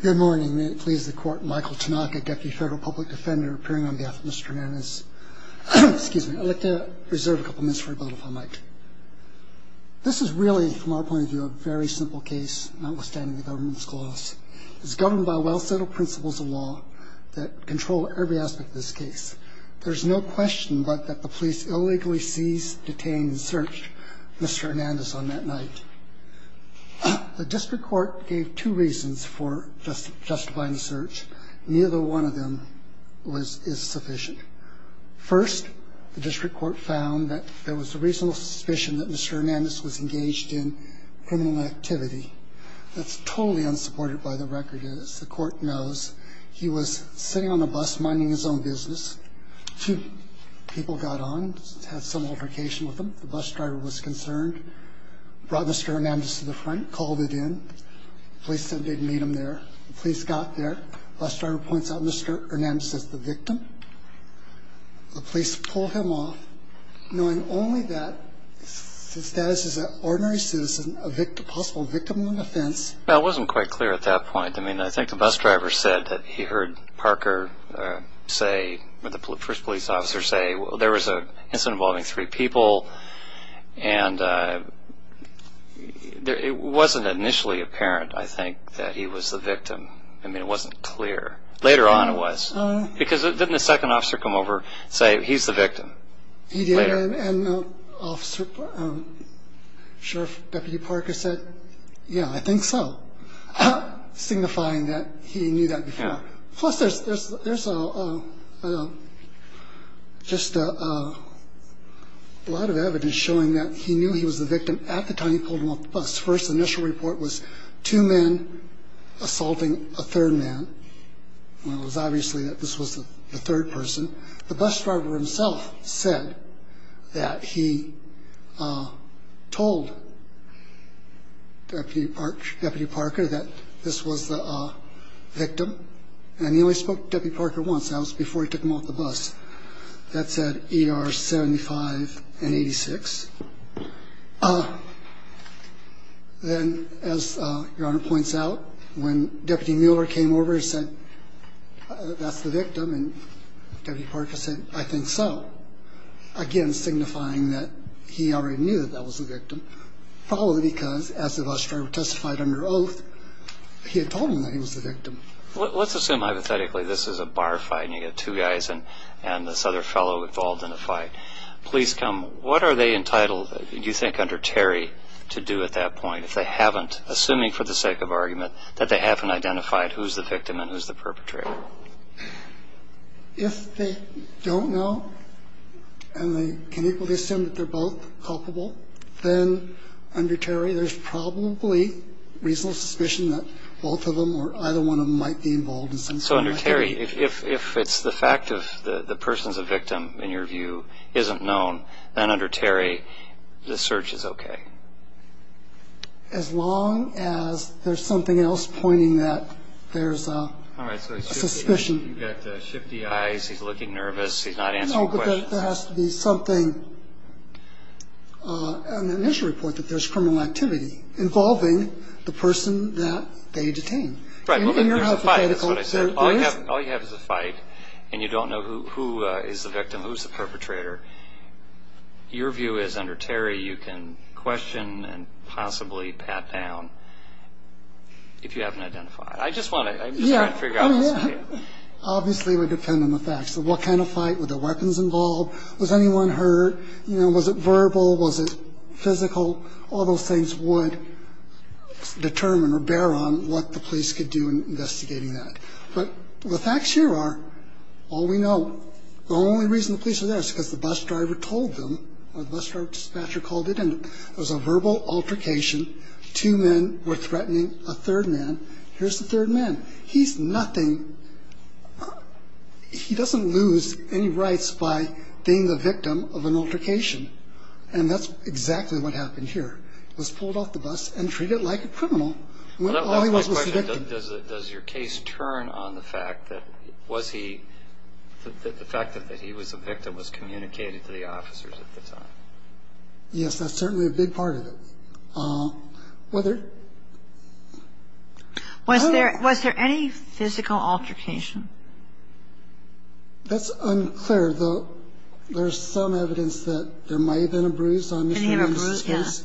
Good morning. May it please the court, Michael Tanaka, Deputy Federal Public Defender, appearing on behalf of Mr. Hernandez. Excuse me. I'd like to reserve a couple minutes for a moment if I might. This is really, from our point of view, a very simple case, notwithstanding the government's clause. It's governed by well-settled principles of law that control every aspect of this case. There's no question but that the police illegally seized, detained, and searched Mr. Hernandez on that night. The district court gave two reasons for justifying the search. Neither one of them is sufficient. First, the district court found that there was a reasonable suspicion that Mr. Hernandez was engaged in criminal activity. That's totally unsupported by the record. As the court knows, he was sitting on the bus minding his own business. Two people got on, had some altercation with him. The bus driver was concerned, brought Mr. Hernandez to the front, called it in. The police said they'd meet him there. The police got there. The bus driver points out Mr. Hernandez as the victim. The police pull him off, knowing only that his status as an ordinary citizen, a possible victim on the fence. Well, it wasn't quite clear at that point. I mean, I think the bus driver said that he heard Parker say, the first police officer say, well, there was an incident involving three people. And it wasn't initially apparent, I think, that he was the victim. I mean, it wasn't clear. Later on it was. Because didn't the second officer come over and say, he's the victim? He did, and Sheriff Deputy Parker said, yeah, I think so. Signifying that he knew that before. Plus, there's just a lot of evidence showing that he knew he was the victim at the time he pulled him off the bus. First initial report was two men assaulting a third man. Well, it was obviously that this was the third person. The bus driver himself said that he told Deputy Parker that this was the victim. And he only spoke to Deputy Parker once. That was before he took him off the bus. That said ER 75 and 86. Then, as Your Honor points out, when Deputy Mueller came over and said, that's the victim, and Deputy Parker said, I think so. Again, signifying that he already knew that that was the victim. Probably because, as the bus driver testified under oath, he had told him that he was the victim. Let's assume, hypothetically, this is a bar fight and you get two guys and this other fellow involved in a fight. Police come. What are they entitled, do you think, under Terry, to do at that point, if they haven't, assuming for the sake of argument, that they haven't identified who's the victim and who's the perpetrator? If they don't know and they can equally assume that they're both culpable, then under Terry there's probably reasonable suspicion that both of them or either one of them might be involved in some sort of activity. If it's the fact of the person's a victim, in your view, isn't known, then under Terry the search is okay. As long as there's something else pointing that there's a suspicion. All right, so he's got shifty eyes, he's looking nervous, he's not answering questions. No, but there has to be something in the initial report that there's criminal activity involving the person that they detained. Right. All you have is a fight and you don't know who is the victim, who's the perpetrator. Your view is under Terry you can question and possibly pat down if you haven't identified. I'm just trying to figure out what's okay. Obviously it would depend on the facts. What kind of fight, were there weapons involved, was anyone hurt, was it verbal, was it physical? All those things would determine or bear on what the police could do in investigating that. But the facts here are all we know. The only reason the police are there is because the bus driver told them or the bus driver dispatcher called it in. It was a verbal altercation. Two men were threatening a third man. Here's the third man. He's nothing. He doesn't lose any rights by being the victim of an altercation. And that's exactly what happened here. He was pulled off the bus and treated like a criminal. That's my question. Does your case turn on the fact that was he, the fact that he was a victim was communicated to the officers at the time? Yes, that's certainly a big part of it. Was there any physical altercation? That's unclear, though there's some evidence that there might have been a bruise on Mr. and Mrs. Case.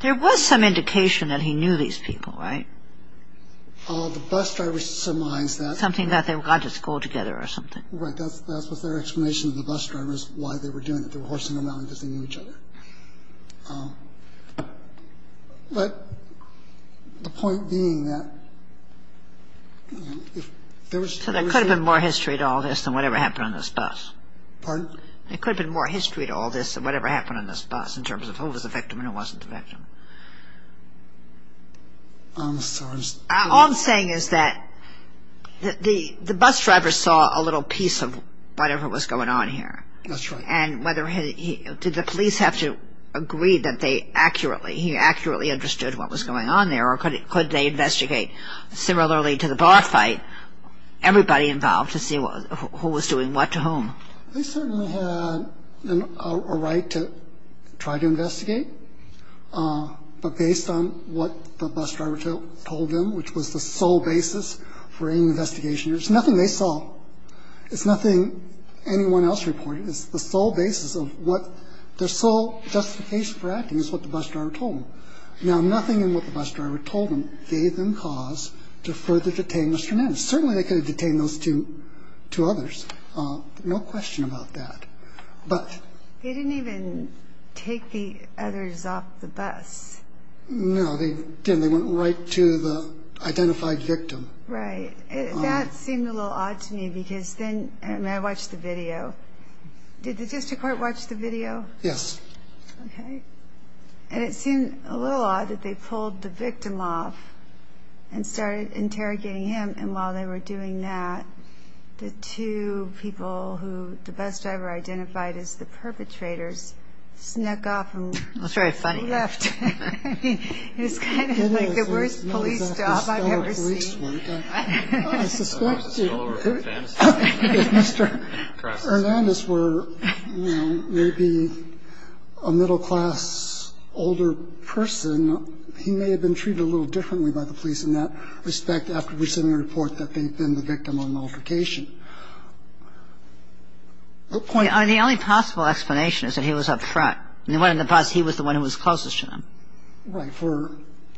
There was some indication that he knew these people, right? The bus driver surmised that. Something about they were going to school together or something. Right. That was their explanation of the bus drivers, why they were doing it. They were horsing around because they knew each other. But the point being that if there was... So there could have been more history to all this than whatever happened on this bus. Pardon? There could have been more history to all this than whatever happened on this bus in terms of who was the victim and who wasn't the victim. I'm sorry. All I'm saying is that the bus driver saw a little piece of whatever was going on here. That's right. And did the police have to agree that he accurately understood what was going on there or could they investigate similarly to the boss fight, everybody involved to see who was doing what to whom? They certainly had a right to try to investigate. But based on what the bus driver told them, which was the sole basis for any investigation, it's nothing they saw, it's nothing anyone else reported, it's the sole basis of what their sole justification for acting is what the bus driver told them. Now, nothing in what the bus driver told them gave them cause to further detain Mr. Nance. Certainly they could have detained those two others. No question about that. They didn't even take the others off the bus. No, they didn't. They went right to the identified victim. Right. That seemed a little odd to me because then I watched the video. Did the district court watch the video? Yes. Okay. And it seemed a little odd that they pulled the victim off and started interrogating him. And while they were doing that, the two people who the bus driver identified as the perpetrators snuck off and left. That's very funny. It's kind of like the worst police job I've ever seen. I suspect it. If Mr. Hernandez were, you know, maybe a middle-class older person, he may have been treated a little differently by the police in that respect after receiving a report that they'd been the victim on multiplication. The only possible explanation is that he was up front. He was the one who was closest to them. Right,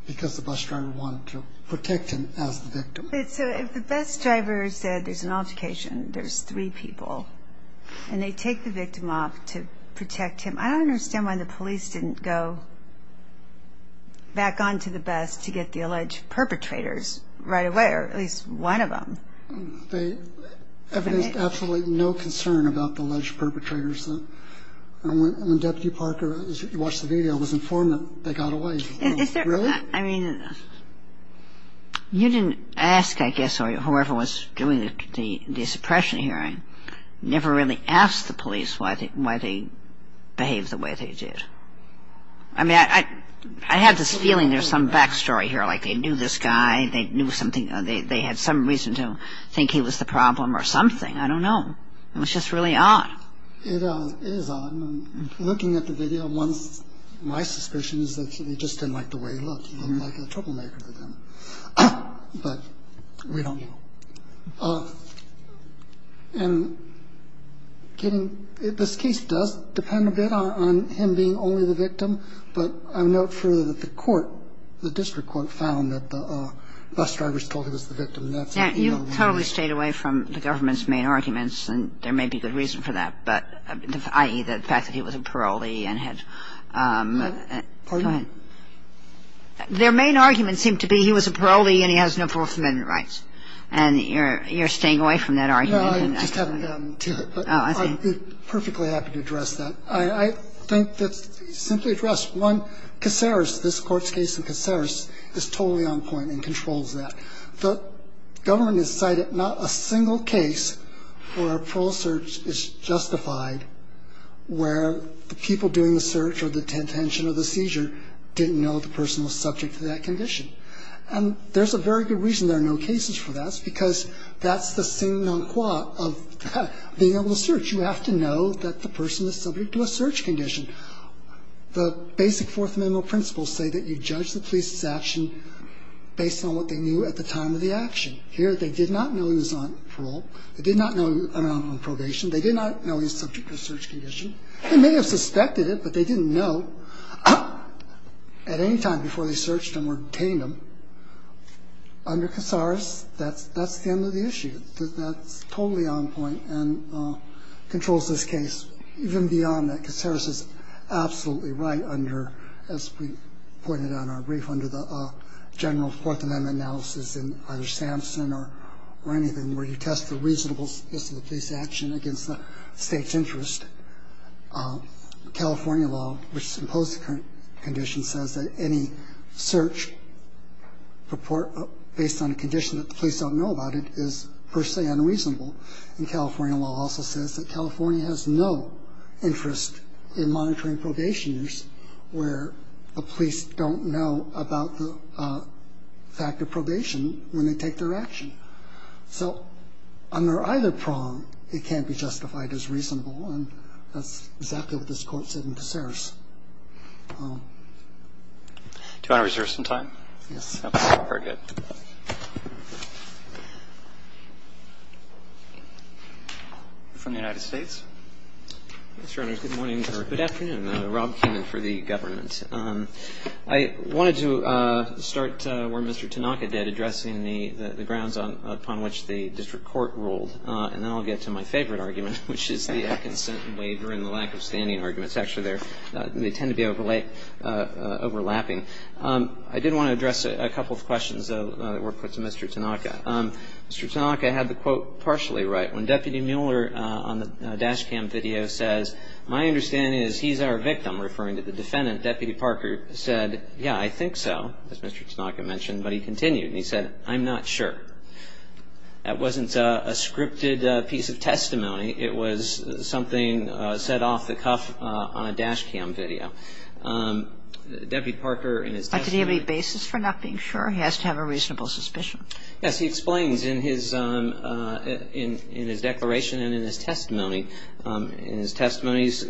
because the bus driver wanted to protect him as the victim. So if the bus driver said there's an altercation, there's three people, and they take the victim off to protect him, I don't understand why the police didn't go back onto the bus to get the alleged perpetrators right away, or at least one of them. There's absolutely no concern about the alleged perpetrators. When Deputy Parker watched the video, I was informed that they got away. Really? I mean, you didn't ask, I guess, or whoever was doing the suppression hearing, never really asked the police why they behaved the way they did. I mean, I had this feeling there's some back story here, like they knew this guy, they knew something, they had some reason to think he was the problem or something. I don't know. It was just really odd. It is odd. Looking at the video, my suspicion is that they just didn't like the way he looked. He looked like a troublemaker to them, but we don't know. And this case does depend a bit on him being only the victim, but I would note further that the court, the district court, found that the bus driver was told he was the victim. And I would note that the court found that the district court found that the bus driver was the victim. And I would note that. And that's what you know from the video. You totally stayed away from the government's main arguments, and there may be good reason for that, but the fact that he was a parolee and had to go ahead. Their main argument seemed to be he was a parolee and he has no Fourth Amendment rights. And you're staying away from that argument. I just haven't gotten to it. Oh, I see. I'm perfectly happy to address that. I think that's simply addressed. One, Caceres, this Court's case in Caceres, is totally on point and controls that. The government has cited not a single case where a parole search is justified where the people doing the search or the detention or the seizure didn't know the person was subject to that condition. And there's a very good reason there are no cases for that. Because that's the sin non quo of being able to search. You have to know that the person is subject to a search condition. The basic Fourth Amendment principles say that you judge the police's action based on what they knew at the time of the action. Here they did not know he was on parole. They did not know he was on probation. They did not know he was subject to a search condition. They may have suspected it, but they didn't know at any time before they searched him or detained him. Under Caceres, that's the end of the issue. That's totally on point and controls this case. Even beyond that, Caceres is absolutely right under, as we pointed out in our brief, under the general Fourth Amendment analysis in either Sampson or anything where you test the reasonableness of the police action against the State's interest. California law, which has imposed the current condition, says that any search report based on a condition that the police don't know about it is per se unreasonable. And California law also says that California has no interest in monitoring probationers where the police don't know about the fact of probation when they take their action. So under either prong, it can't be justified as reasonable, and that's exactly what this Court said in Caceres. Do you want to reserve some time? Yes. Very good. From the United States. Mr. Honors, good morning or good afternoon. Rob Keenan for the government. I wanted to start where Mr. Tanaka did, addressing the grounds upon which the district court ruled. And then I'll get to my favorite argument, which is the consent waiver and the lack of standing arguments. I did want to address a couple of questions that were put to Mr. Tanaka. Mr. Tanaka had the quote partially right. When Deputy Mueller on the dash cam video says, my understanding is he's our victim, referring to the defendant, Deputy Parker said, yeah, I think so, as Mr. Tanaka mentioned. But he continued, and he said, I'm not sure. That wasn't a scripted piece of testimony. It was something said off the cuff on a dash cam video. Deputy Parker in his testimony. Did he have any basis for not being sure? He has to have a reasonable suspicion. Yes. He explains in his declaration and in his testimony, in his testimony's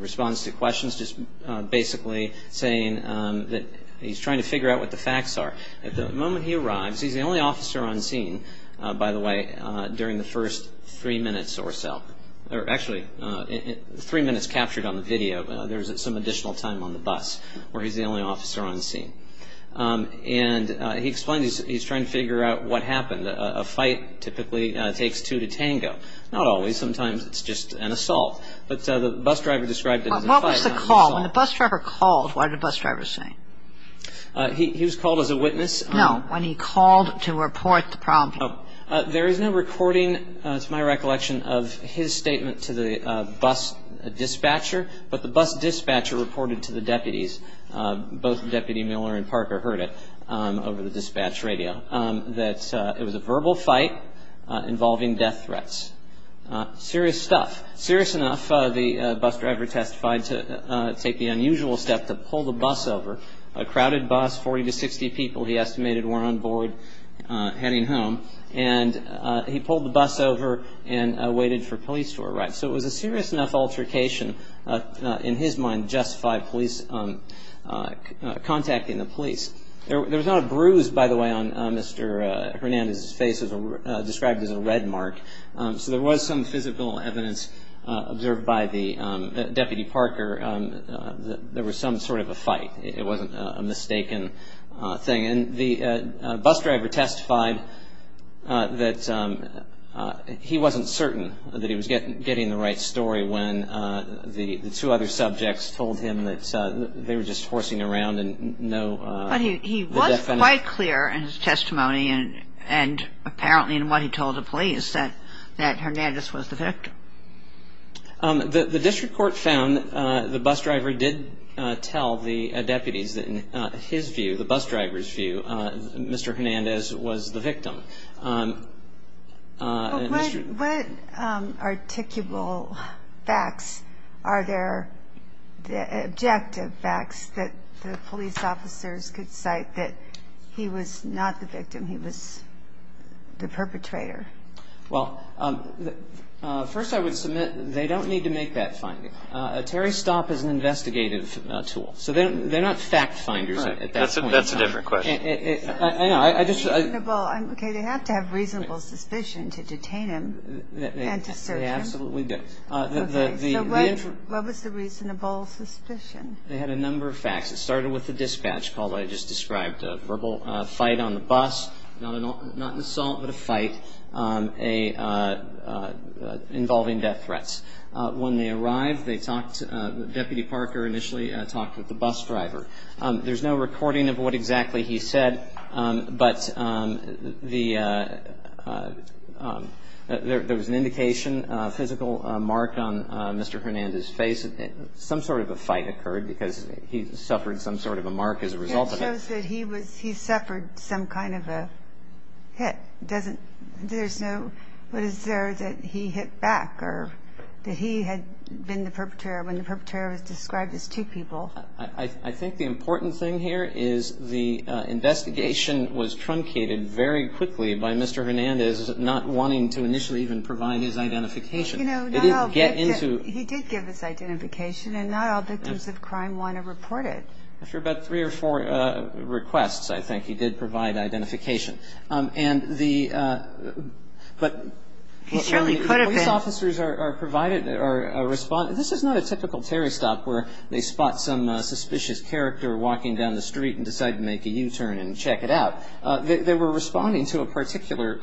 response to questions just basically saying that he's trying to figure out what the facts are. At the moment he arrives, he's the only officer on scene, by the way, during the first three minutes or so. Actually, three minutes captured on the video. There's some additional time on the bus where he's the only officer on scene. And he explains he's trying to figure out what happened. A fight typically takes two to tango. Not always. Sometimes it's just an assault. But the bus driver described it as a fight, not an assault. What was the call? When the bus driver called, what did the bus driver say? He was called as a witness. No. When he called to report the problem. There is no recording, to my recollection, of his statement to the bus dispatcher, but the bus dispatcher reported to the deputies, both Deputy Miller and Parker heard it over the dispatch radio, that it was a verbal fight involving death threats. Serious stuff. Serious enough, the bus driver testified to take the unusual step to pull the bus over, a crowded bus, 40 to 60 people he estimated were on board heading home. And he pulled the bus over and waited for police to arrive. So it was a serious enough altercation, in his mind, justifying police contacting the police. There was not a bruise, by the way, on Mr. Hernandez's face described as a red mark. So there was some physical evidence observed by Deputy Parker that there was some sort of a fight. It wasn't a mistaken thing. And the bus driver testified that he wasn't certain that he was getting the right story when the two other subjects told him that they were just horsing around in no definite. But he was quite clear in his testimony and apparently in what he told the police that Hernandez was the victim. The district court found that the bus driver did tell the deputies that in his view, the bus driver's view, Mr. Hernandez was the victim. What articulable facts are there, objective facts, that the police officers could cite that he was not the victim, he was the perpetrator? Well, first I would submit they don't need to make that finding. A Terry stop is an investigative tool. So they're not fact finders at that point. That's a different question. I know. Okay. They have to have reasonable suspicion to detain him and to search him. They absolutely do. Okay. So what was the reasonable suspicion? They had a number of facts. It started with the dispatch call that I just described, a verbal fight on the bus, not an assault but a fight. A verbal fight involving death threats. When they arrived, they talked, Deputy Parker initially talked with the bus driver. There's no recording of what exactly he said, but there was an indication, a physical mark on Mr. Hernandez's face. Some sort of a fight occurred because he suffered some sort of a mark as a result of it. It shows that he suffered some kind of a hit. There's no, but is there that he hit back or that he had been the perpetrator when the perpetrator was described as two people? I think the important thing here is the investigation was truncated very quickly by Mr. Hernandez not wanting to initially even provide his identification. He did give his identification, and not all victims of crime want to report it. After about three or four requests, I think, he did provide identification. And the, but the police officers are provided or responded. This is not a typical tarry stop where they spot some suspicious character walking down the street and decide to make a U-turn and check it out. They were responding to a particular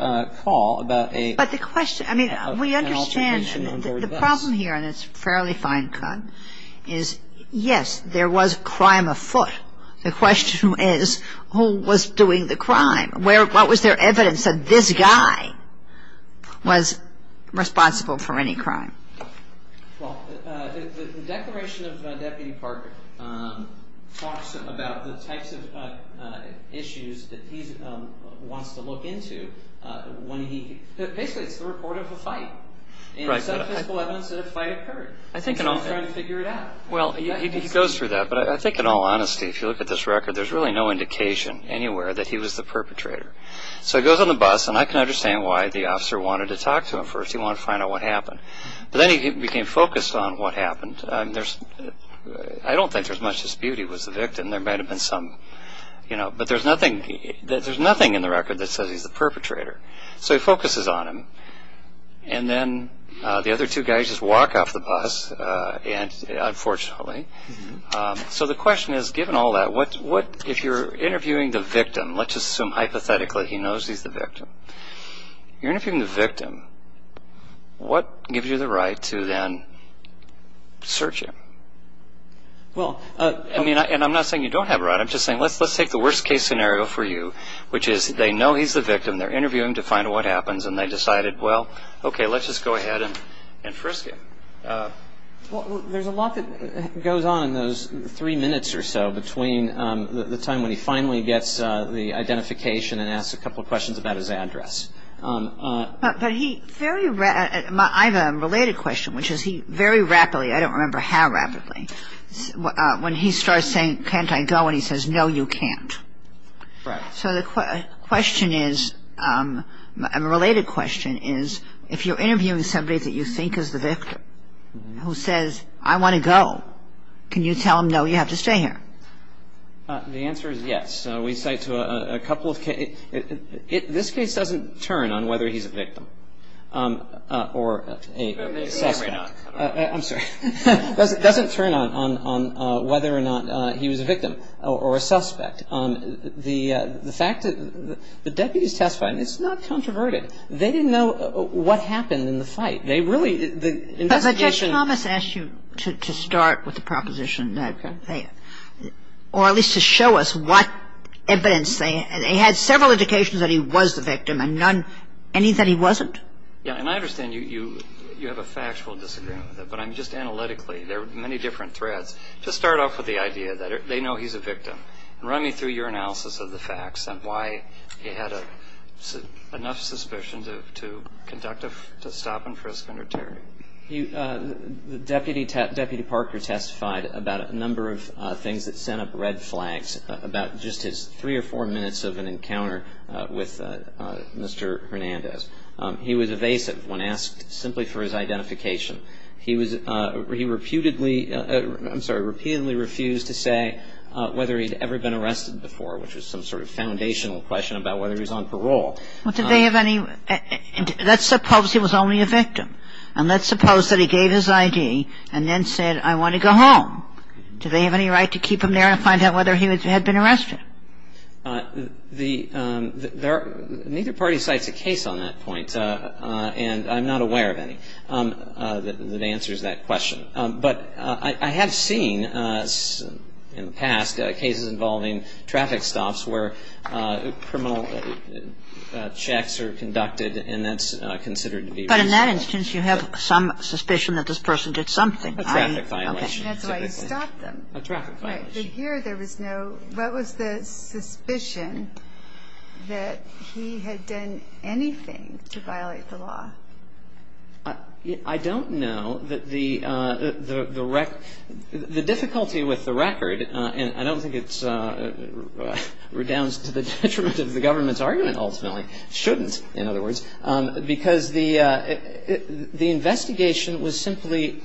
call about an altercation on board the bus. The problem here, and it's fairly fine cut, is yes, there was crime afoot. The question is who was doing the crime? Where, what was their evidence that this guy was responsible for any crime? Well, the Declaration of Deputy Parker talks about the types of issues that he wants to look into when he, basically it's the report of a fight. And some physical evidence that a fight occurred. I think in all fairness. He's trying to figure it out. Well, he goes through that. But I think in all honesty, if you look at this record, there's really no indication anywhere that he was the perpetrator. So he goes on the bus, and I can understand why the officer wanted to talk to him first. He wanted to find out what happened. But then he became focused on what happened. There's, I don't think there's much dispute he was the victim. There might have been some, you know, but there's nothing, there's nothing in the record that says he's the perpetrator. So he focuses on him. And then the other two guys just walk off the bus, unfortunately. So the question is, given all that, what, if you're interviewing the victim, let's just assume hypothetically he knows he's the victim. You're interviewing the victim. What gives you the right to then search him? Well, I mean, and I'm not saying you don't have a right. I'm just saying let's take the worst case scenario for you, which is they know he's the victim. They're interviewing him to find out what happens. And they decided, well, okay, let's just go ahead and frisk him. Well, there's a lot that goes on in those three minutes or so between the time when he finally gets the identification and asks a couple of questions about his address. But he very, I have a related question, which is he very rapidly, I don't remember how rapidly, when he starts saying, can't I go? And he says, no, you can't. Right. So the question is, a related question is, if you're interviewing somebody that you think is the victim, who says, I want to go, can you tell him, no, you have to stay here? The answer is yes. We cite to a couple of cases. This case doesn't turn on whether he's a victim or a suspect. I'm sorry. It doesn't turn on whether or not he was a victim or a suspect. The fact that the deputy is testifying, it's not controverted. They didn't know what happened in the fight. They really, the investigation -- But Judge Thomas asked you to start with the proposition that they, or at least to show us what evidence. They had several indications that he was the victim and none, any that he wasn't. Yeah. And I understand you have a factual disagreement with it. But I'm just analytically, there are many different threads. Just start off with the idea that they know he's a victim. Run me through your analysis of the facts and why he had enough suspicion to conduct a stop and frisk under Terry. Deputy Parker testified about a number of things that sent up red flags, about just his three or four minutes of an encounter with Mr. Hernandez. He was evasive when asked simply for his identification. He was, he reputedly, I'm sorry, repeatedly refused to say whether he'd ever been arrested before, which was some sort of foundational question about whether he was on parole. Well, did they have any, let's suppose he was only a victim. And let's suppose that he gave his I.D. and then said, I want to go home. Do they have any right to keep him there and find out whether he had been arrested? The, there, neither party cites a case on that point, and I'm not aware of any. That answers that question. But I have seen in the past cases involving traffic stops where criminal checks are conducted, and that's considered to be reasonable. But in that instance, you have some suspicion that this person did something, right? A traffic violation. That's why you stopped them. A traffic violation. Right. But here there was no, what was the suspicion that he had done anything to violate the law? I don't know that the, the record, the difficulty with the record, and I don't think it redounds to the detriment of the government's argument ultimately, shouldn't, in other words, because the investigation was simply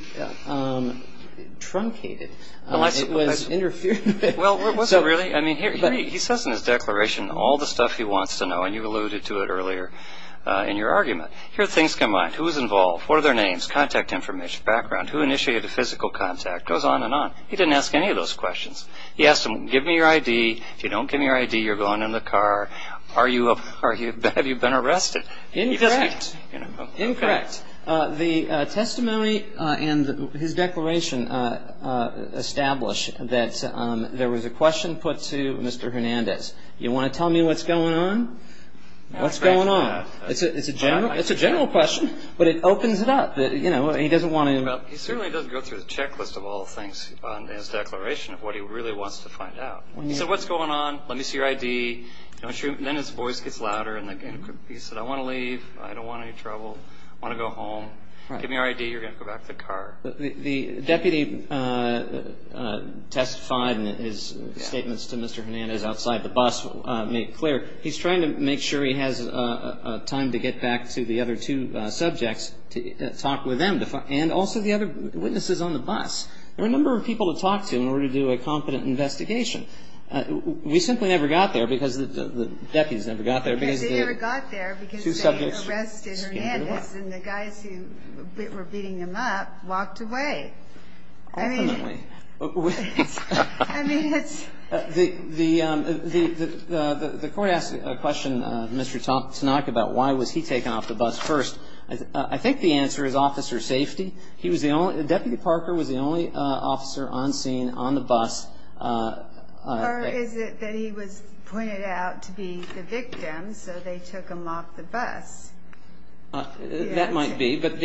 truncated. It was interfered with. Well, was it really? I mean, he says in his declaration all the stuff he wants to know, and you alluded to it earlier in your argument. Here are things combined. Who was involved? What are their names, contact information, background? Who initiated the physical contact? It goes on and on. He didn't ask any of those questions. He asked them, give me your I.D. If you don't give me your I.D., you're going in the car. Are you, have you been arrested? Incorrect. Incorrect. The testimony and his declaration establish that there was a question put to Mr. Hernandez. Do you want to tell me what's going on? What's going on? It's a general question, but it opens it up. You know, he doesn't want to. He certainly doesn't go through the checklist of all the things in his declaration of what he really wants to find out. He said, what's going on? Let me see your I.D. Then his voice gets louder, and he said, I want to leave. I don't want any trouble. I want to go home. Give me your I.D. You're going to go back to the car. The deputy testified in his statements to Mr. Hernandez outside the bus, made clear. He's trying to make sure he has time to get back to the other two subjects to talk with them and also the other witnesses on the bus. There were a number of people to talk to in order to do a competent investigation. We simply never got there because the deputies never got there. Because they never got there because they arrested Hernandez, and the guys who were beating him up walked away. Ultimately. I mean, it's. The court asked a question of Mr. Tanaka about why was he taken off the bus first. I think the answer is officer safety. He was the only, Deputy Parker was the only officer on scene on the bus. Or is it that he was pointed out to be the victim, so they took him off the bus? That might be. But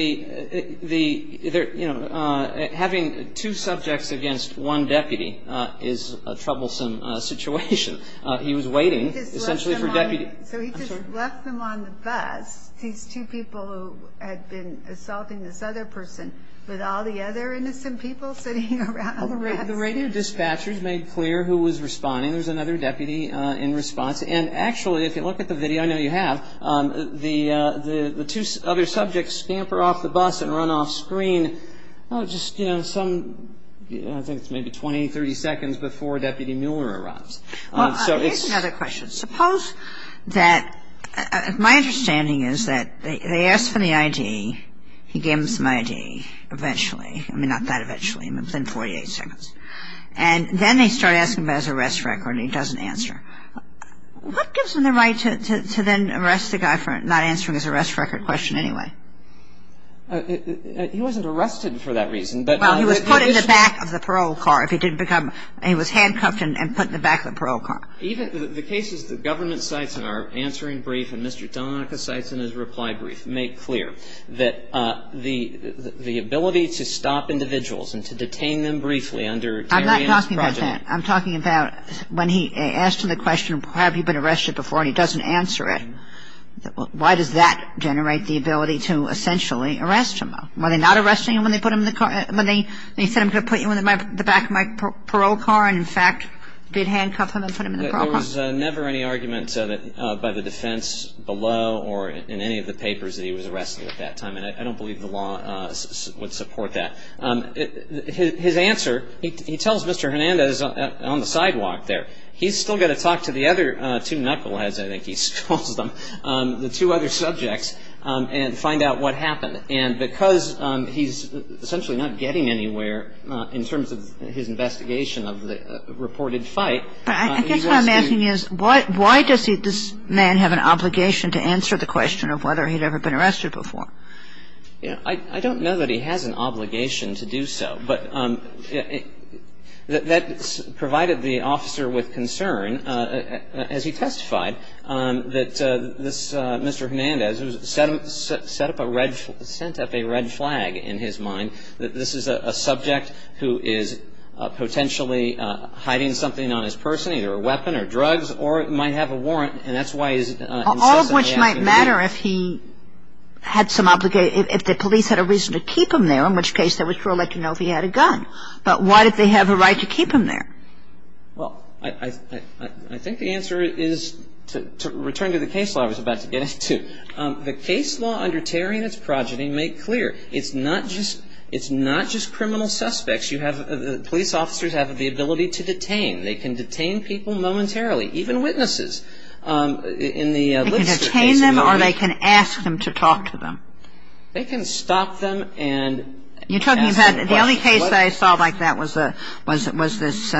having two subjects against one deputy is a troublesome situation. He was waiting, essentially, for deputy. So he just left them on the bus, these two people who had been assaulting this other person, with all the other innocent people sitting around the bus? Well, the radio dispatchers made clear who was responding. There was another deputy in response. And actually, if you look at the video, I know you have, the two other subjects scamper off the bus and run off screen, just, you know, some, I think it's maybe 20, 30 seconds before Deputy Mueller arrives. Here's another question. Suppose that, my understanding is that they asked for the I.D., he gave them some I.D. eventually. I mean, not that eventually. Within 48 seconds. And then they start asking about his arrest record, and he doesn't answer. What gives him the right to then arrest the guy for not answering his arrest record question anyway? He wasn't arrested for that reason. Well, he was put in the back of the parole car if he didn't become, he was handcuffed and put in the back of the parole car. Even the cases that Government cites in our answering brief and Mr. Donica cites in his reply brief make clear that the ability to stop individuals and to detain them briefly under Tarian's project. I'm not talking about that. I'm talking about when he asked him the question, have you been arrested before, and he doesn't answer it. Why does that generate the ability to essentially arrest him? Were they not arresting him when they put him in the car, when they said I'm going to put you in the back of my parole car There was never any argument by the defense below or in any of the papers that he was arrested at that time, and I don't believe the law would support that. His answer, he tells Mr. Hernandez on the sidewalk there, he's still got to talk to the other two knuckleheads, I think he calls them, the two other subjects, and find out what happened. And because he's essentially not getting anywhere in terms of his investigation of the reported fight, he's asking the question, why does this man have an obligation to answer the question of whether he'd ever been arrested before? I don't know that he has an obligation to do so, but that provided the officer with concern, as he testified, that this Mr. Hernandez who set up a red flag in his mind, that this is a subject who is potentially hiding something on his person, either a weapon or drugs, or might have a warrant, and that's why he's insistently asking the question. All of which might matter if he had some obligation, if the police had a reason to keep him there, in which case they would still let you know if he had a gun. But why did they have a right to keep him there? Well, I think the answer is, to return to the case law I was about to get into, the case law under Terry and its progeny make clear, it's not just criminal suspects. Police officers have the ability to detain. They can detain people momentarily, even witnesses. They can detain them or they can ask them to talk to them. They can stop them and ask them questions. The only case I saw like that was this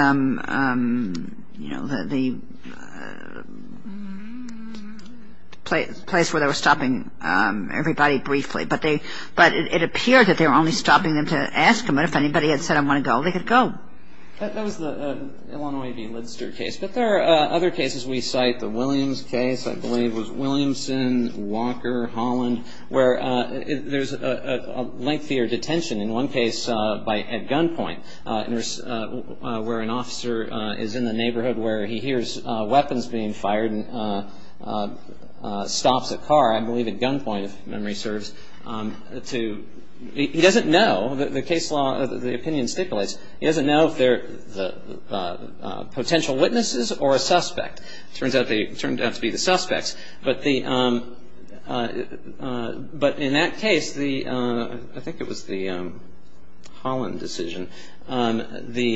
place where they were stopping everybody briefly, but it appeared that they were only stopping them to ask them, and if anybody had said, I want to go, they could go. That was the Illinois v. Lidster case. But there are other cases we cite. The Williams case, I believe, was Williamson, Walker, Holland, where there's a lengthier detention in one case at gunpoint, where an officer is in the neighborhood where he hears weapons being fired and stops a car, I believe at gunpoint, if memory serves. He doesn't know, the case law, the opinion stipulates, he doesn't know if they're potential witnesses or a suspect. It turns out to be the suspects. But in that case, I think it was the Holland decision, they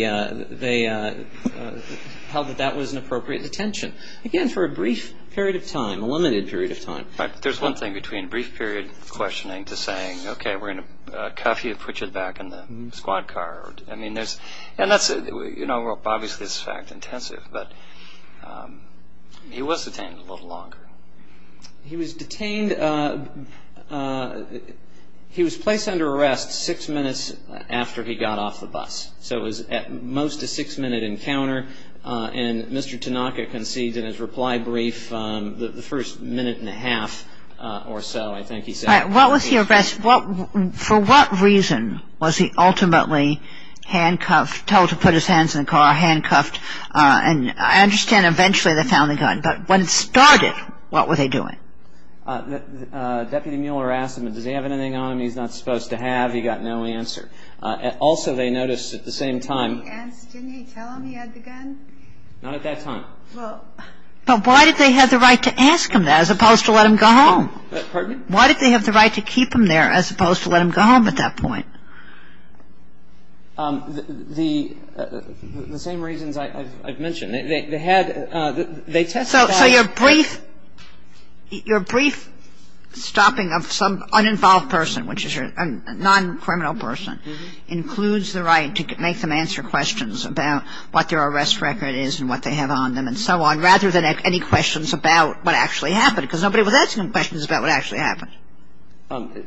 held that that was an appropriate detention, again, for a brief period of time, a limited period of time. There's one thing between a brief period of questioning to saying, okay, we're going to cuff you and put you back in the squad car. I mean, obviously it's fact-intensive, but he was detained a little longer. He was placed under arrest six minutes after he got off the bus, so it was at most a six-minute encounter, and Mr. Tanaka concedes in his reply brief the first minute and a half or so, I think he said. All right. What was he arrested for? For what reason was he ultimately handcuffed, told to put his hands in the car, handcuffed? And I understand eventually they found the gun, but when it started, what were they doing? Deputy Mueller asked him, does he have anything on him he's not supposed to have? He got no answer. Also, they noticed at the same time. Didn't he tell him he had the gun? Not at that time. Well, why did they have the right to ask him that as opposed to let him go home? Pardon me? Why did they have the right to keep him there as opposed to let him go home at that point? The same reasons I've mentioned. They had they tested that. So your brief stopping of some uninvolved person, which is a non-criminal person, includes the right to make them answer questions about what their arrest record is and what they have on them and so on, rather than any questions about what actually happened, because nobody was asking them questions about what actually happened.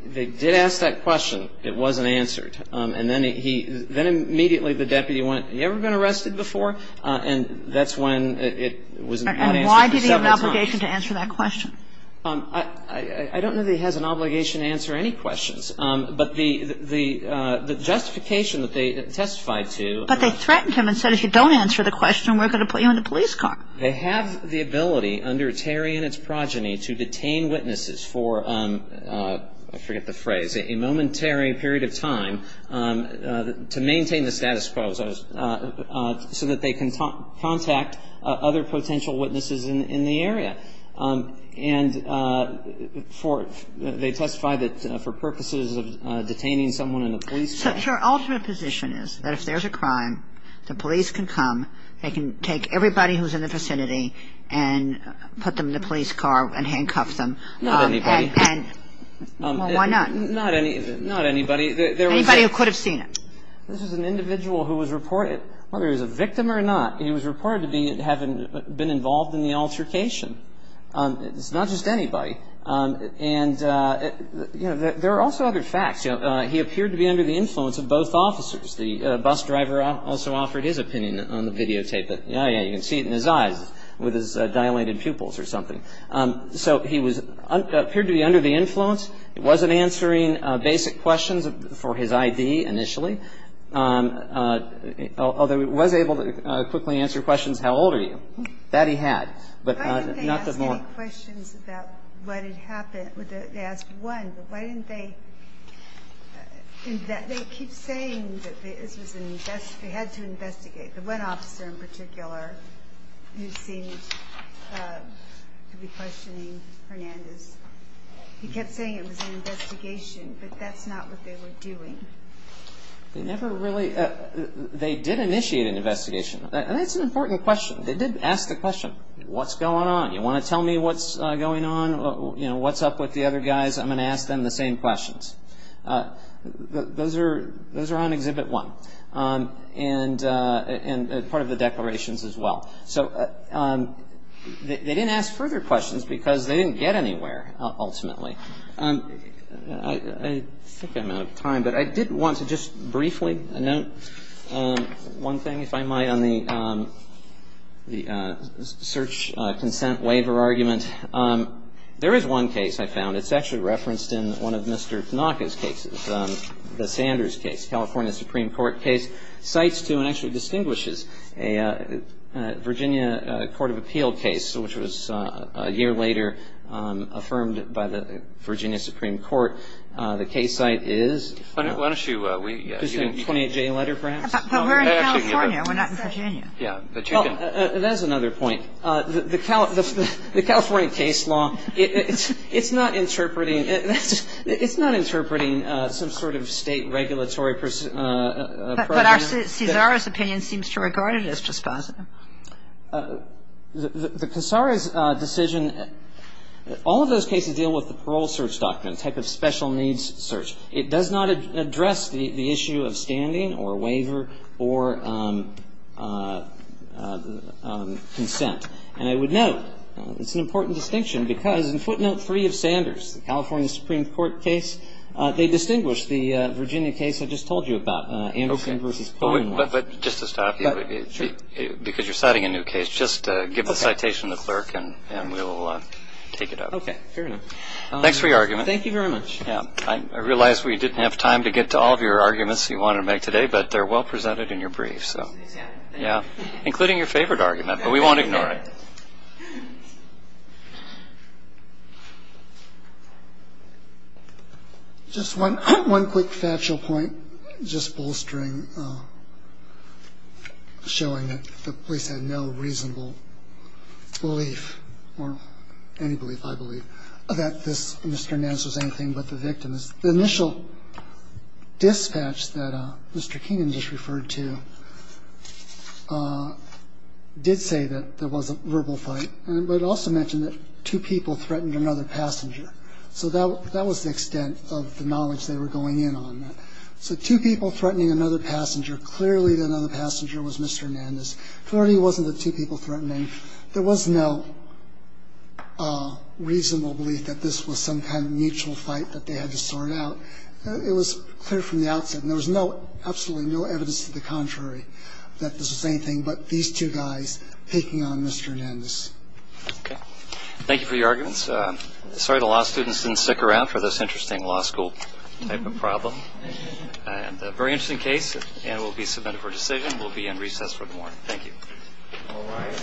They did ask that question. It wasn't answered. And then he then immediately the deputy went, have you ever been arrested before? And that's when it was not answered for several times. And why did he have an obligation to answer that question? I don't know that he has an obligation to answer any questions. But the justification that they testified to. But they threatened him and said if you don't answer the question, we're going to put you in a police car. They have the ability under Terry and its progeny to detain witnesses for, I forget the phrase, a momentary period of time to maintain the status quo so that they can contact other potential witnesses in the area. And they testified that for purposes of detaining someone in a police car. So your ultimate position is that if there's a crime, the police can come, they can take everybody who's in the vicinity and put them in a police car and handcuff them. Not anybody. Why not? Not anybody. Anybody who could have seen it. This is an individual who was reported, whether he was a victim or not, he was reported to have been involved in the altercation. It's not just anybody. And, you know, there are also other facts. He appeared to be under the influence of both officers. The bus driver also offered his opinion on the videotape. You can see it in his eyes with his dilated pupils or something. So he appeared to be under the influence. He wasn't answering basic questions for his I.D. initially. Although he was able to quickly answer questions, how old are you? That he had. But not that long. Why didn't they ask any questions about what had happened? They asked one. But why didn't they keep saying that they had to investigate? The one officer in particular who seemed to be questioning Hernandez, he kept saying it was an investigation, but that's not what they were doing. They never really – they did initiate an investigation. And that's an important question. They did ask the question, what's going on? You want to tell me what's going on? You know, what's up with the other guys? I'm going to ask them the same questions. Those are on Exhibit 1 and part of the declarations as well. So they didn't ask further questions because they didn't get anywhere ultimately. I think I'm out of time, but I did want to just briefly note one thing, if I might, on the search consent waiver argument. There is one case I found. It's actually referenced in one of Mr. Tanaka's cases, the Sanders case, California Supreme Court case, cites to and actually distinguishes a Virginia Court of Appeal case, which was a year later affirmed by the Virginia Supreme Court. The case site is – Why don't you – Is it a 28-J letter perhaps? But we're in California. We're not in Virginia. Yeah. That's another point. The California case law, it's not interpreting – it's not interpreting some sort of state regulatory – But Cesar's opinion seems to regard it as dispositive. The Cesar's decision – all of those cases deal with the parole search document, type of special needs search. It does not address the issue of standing or waiver or consent. And I would note, it's an important distinction because in footnote 3 of Sanders, the California Supreme Court case, they distinguish the Virginia case I just told you about, Anderson v. Poneman. But just to stop you, because you're citing a new case, just give the citation to the clerk and we will take it up. Okay. Fair enough. Thanks for your argument. Thank you very much. I realize we didn't have time to get to all of your arguments you wanted to make today, but they're well presented in your brief. Including your favorite argument, but we won't ignore it. Just one quick factual point, just bolstering, showing that the police had no reasonable belief, or any belief I believe, that this Mr. Nance was anything but the victim. The initial dispatch that Mr. Keenan just referred to did say that there was a verbal fight, but it also mentioned that two people threatened another passenger. So that was the extent of the knowledge they were going in on. So two people threatening another passenger, clearly another passenger was Mr. Nance. Clearly it wasn't the two people threatening. There was no reasonable belief that this was some kind of mutual fight that they had to sort out. It was clear from the outset, and there was absolutely no evidence to the contrary, that this was the same thing, but these two guys picking on Mr. Nance. Okay. Thank you for your arguments. Sorry the law students didn't stick around for this interesting law school type of problem. And a very interesting case, and it will be submitted for decision. We'll be in recess for the morning. Thank you. All right.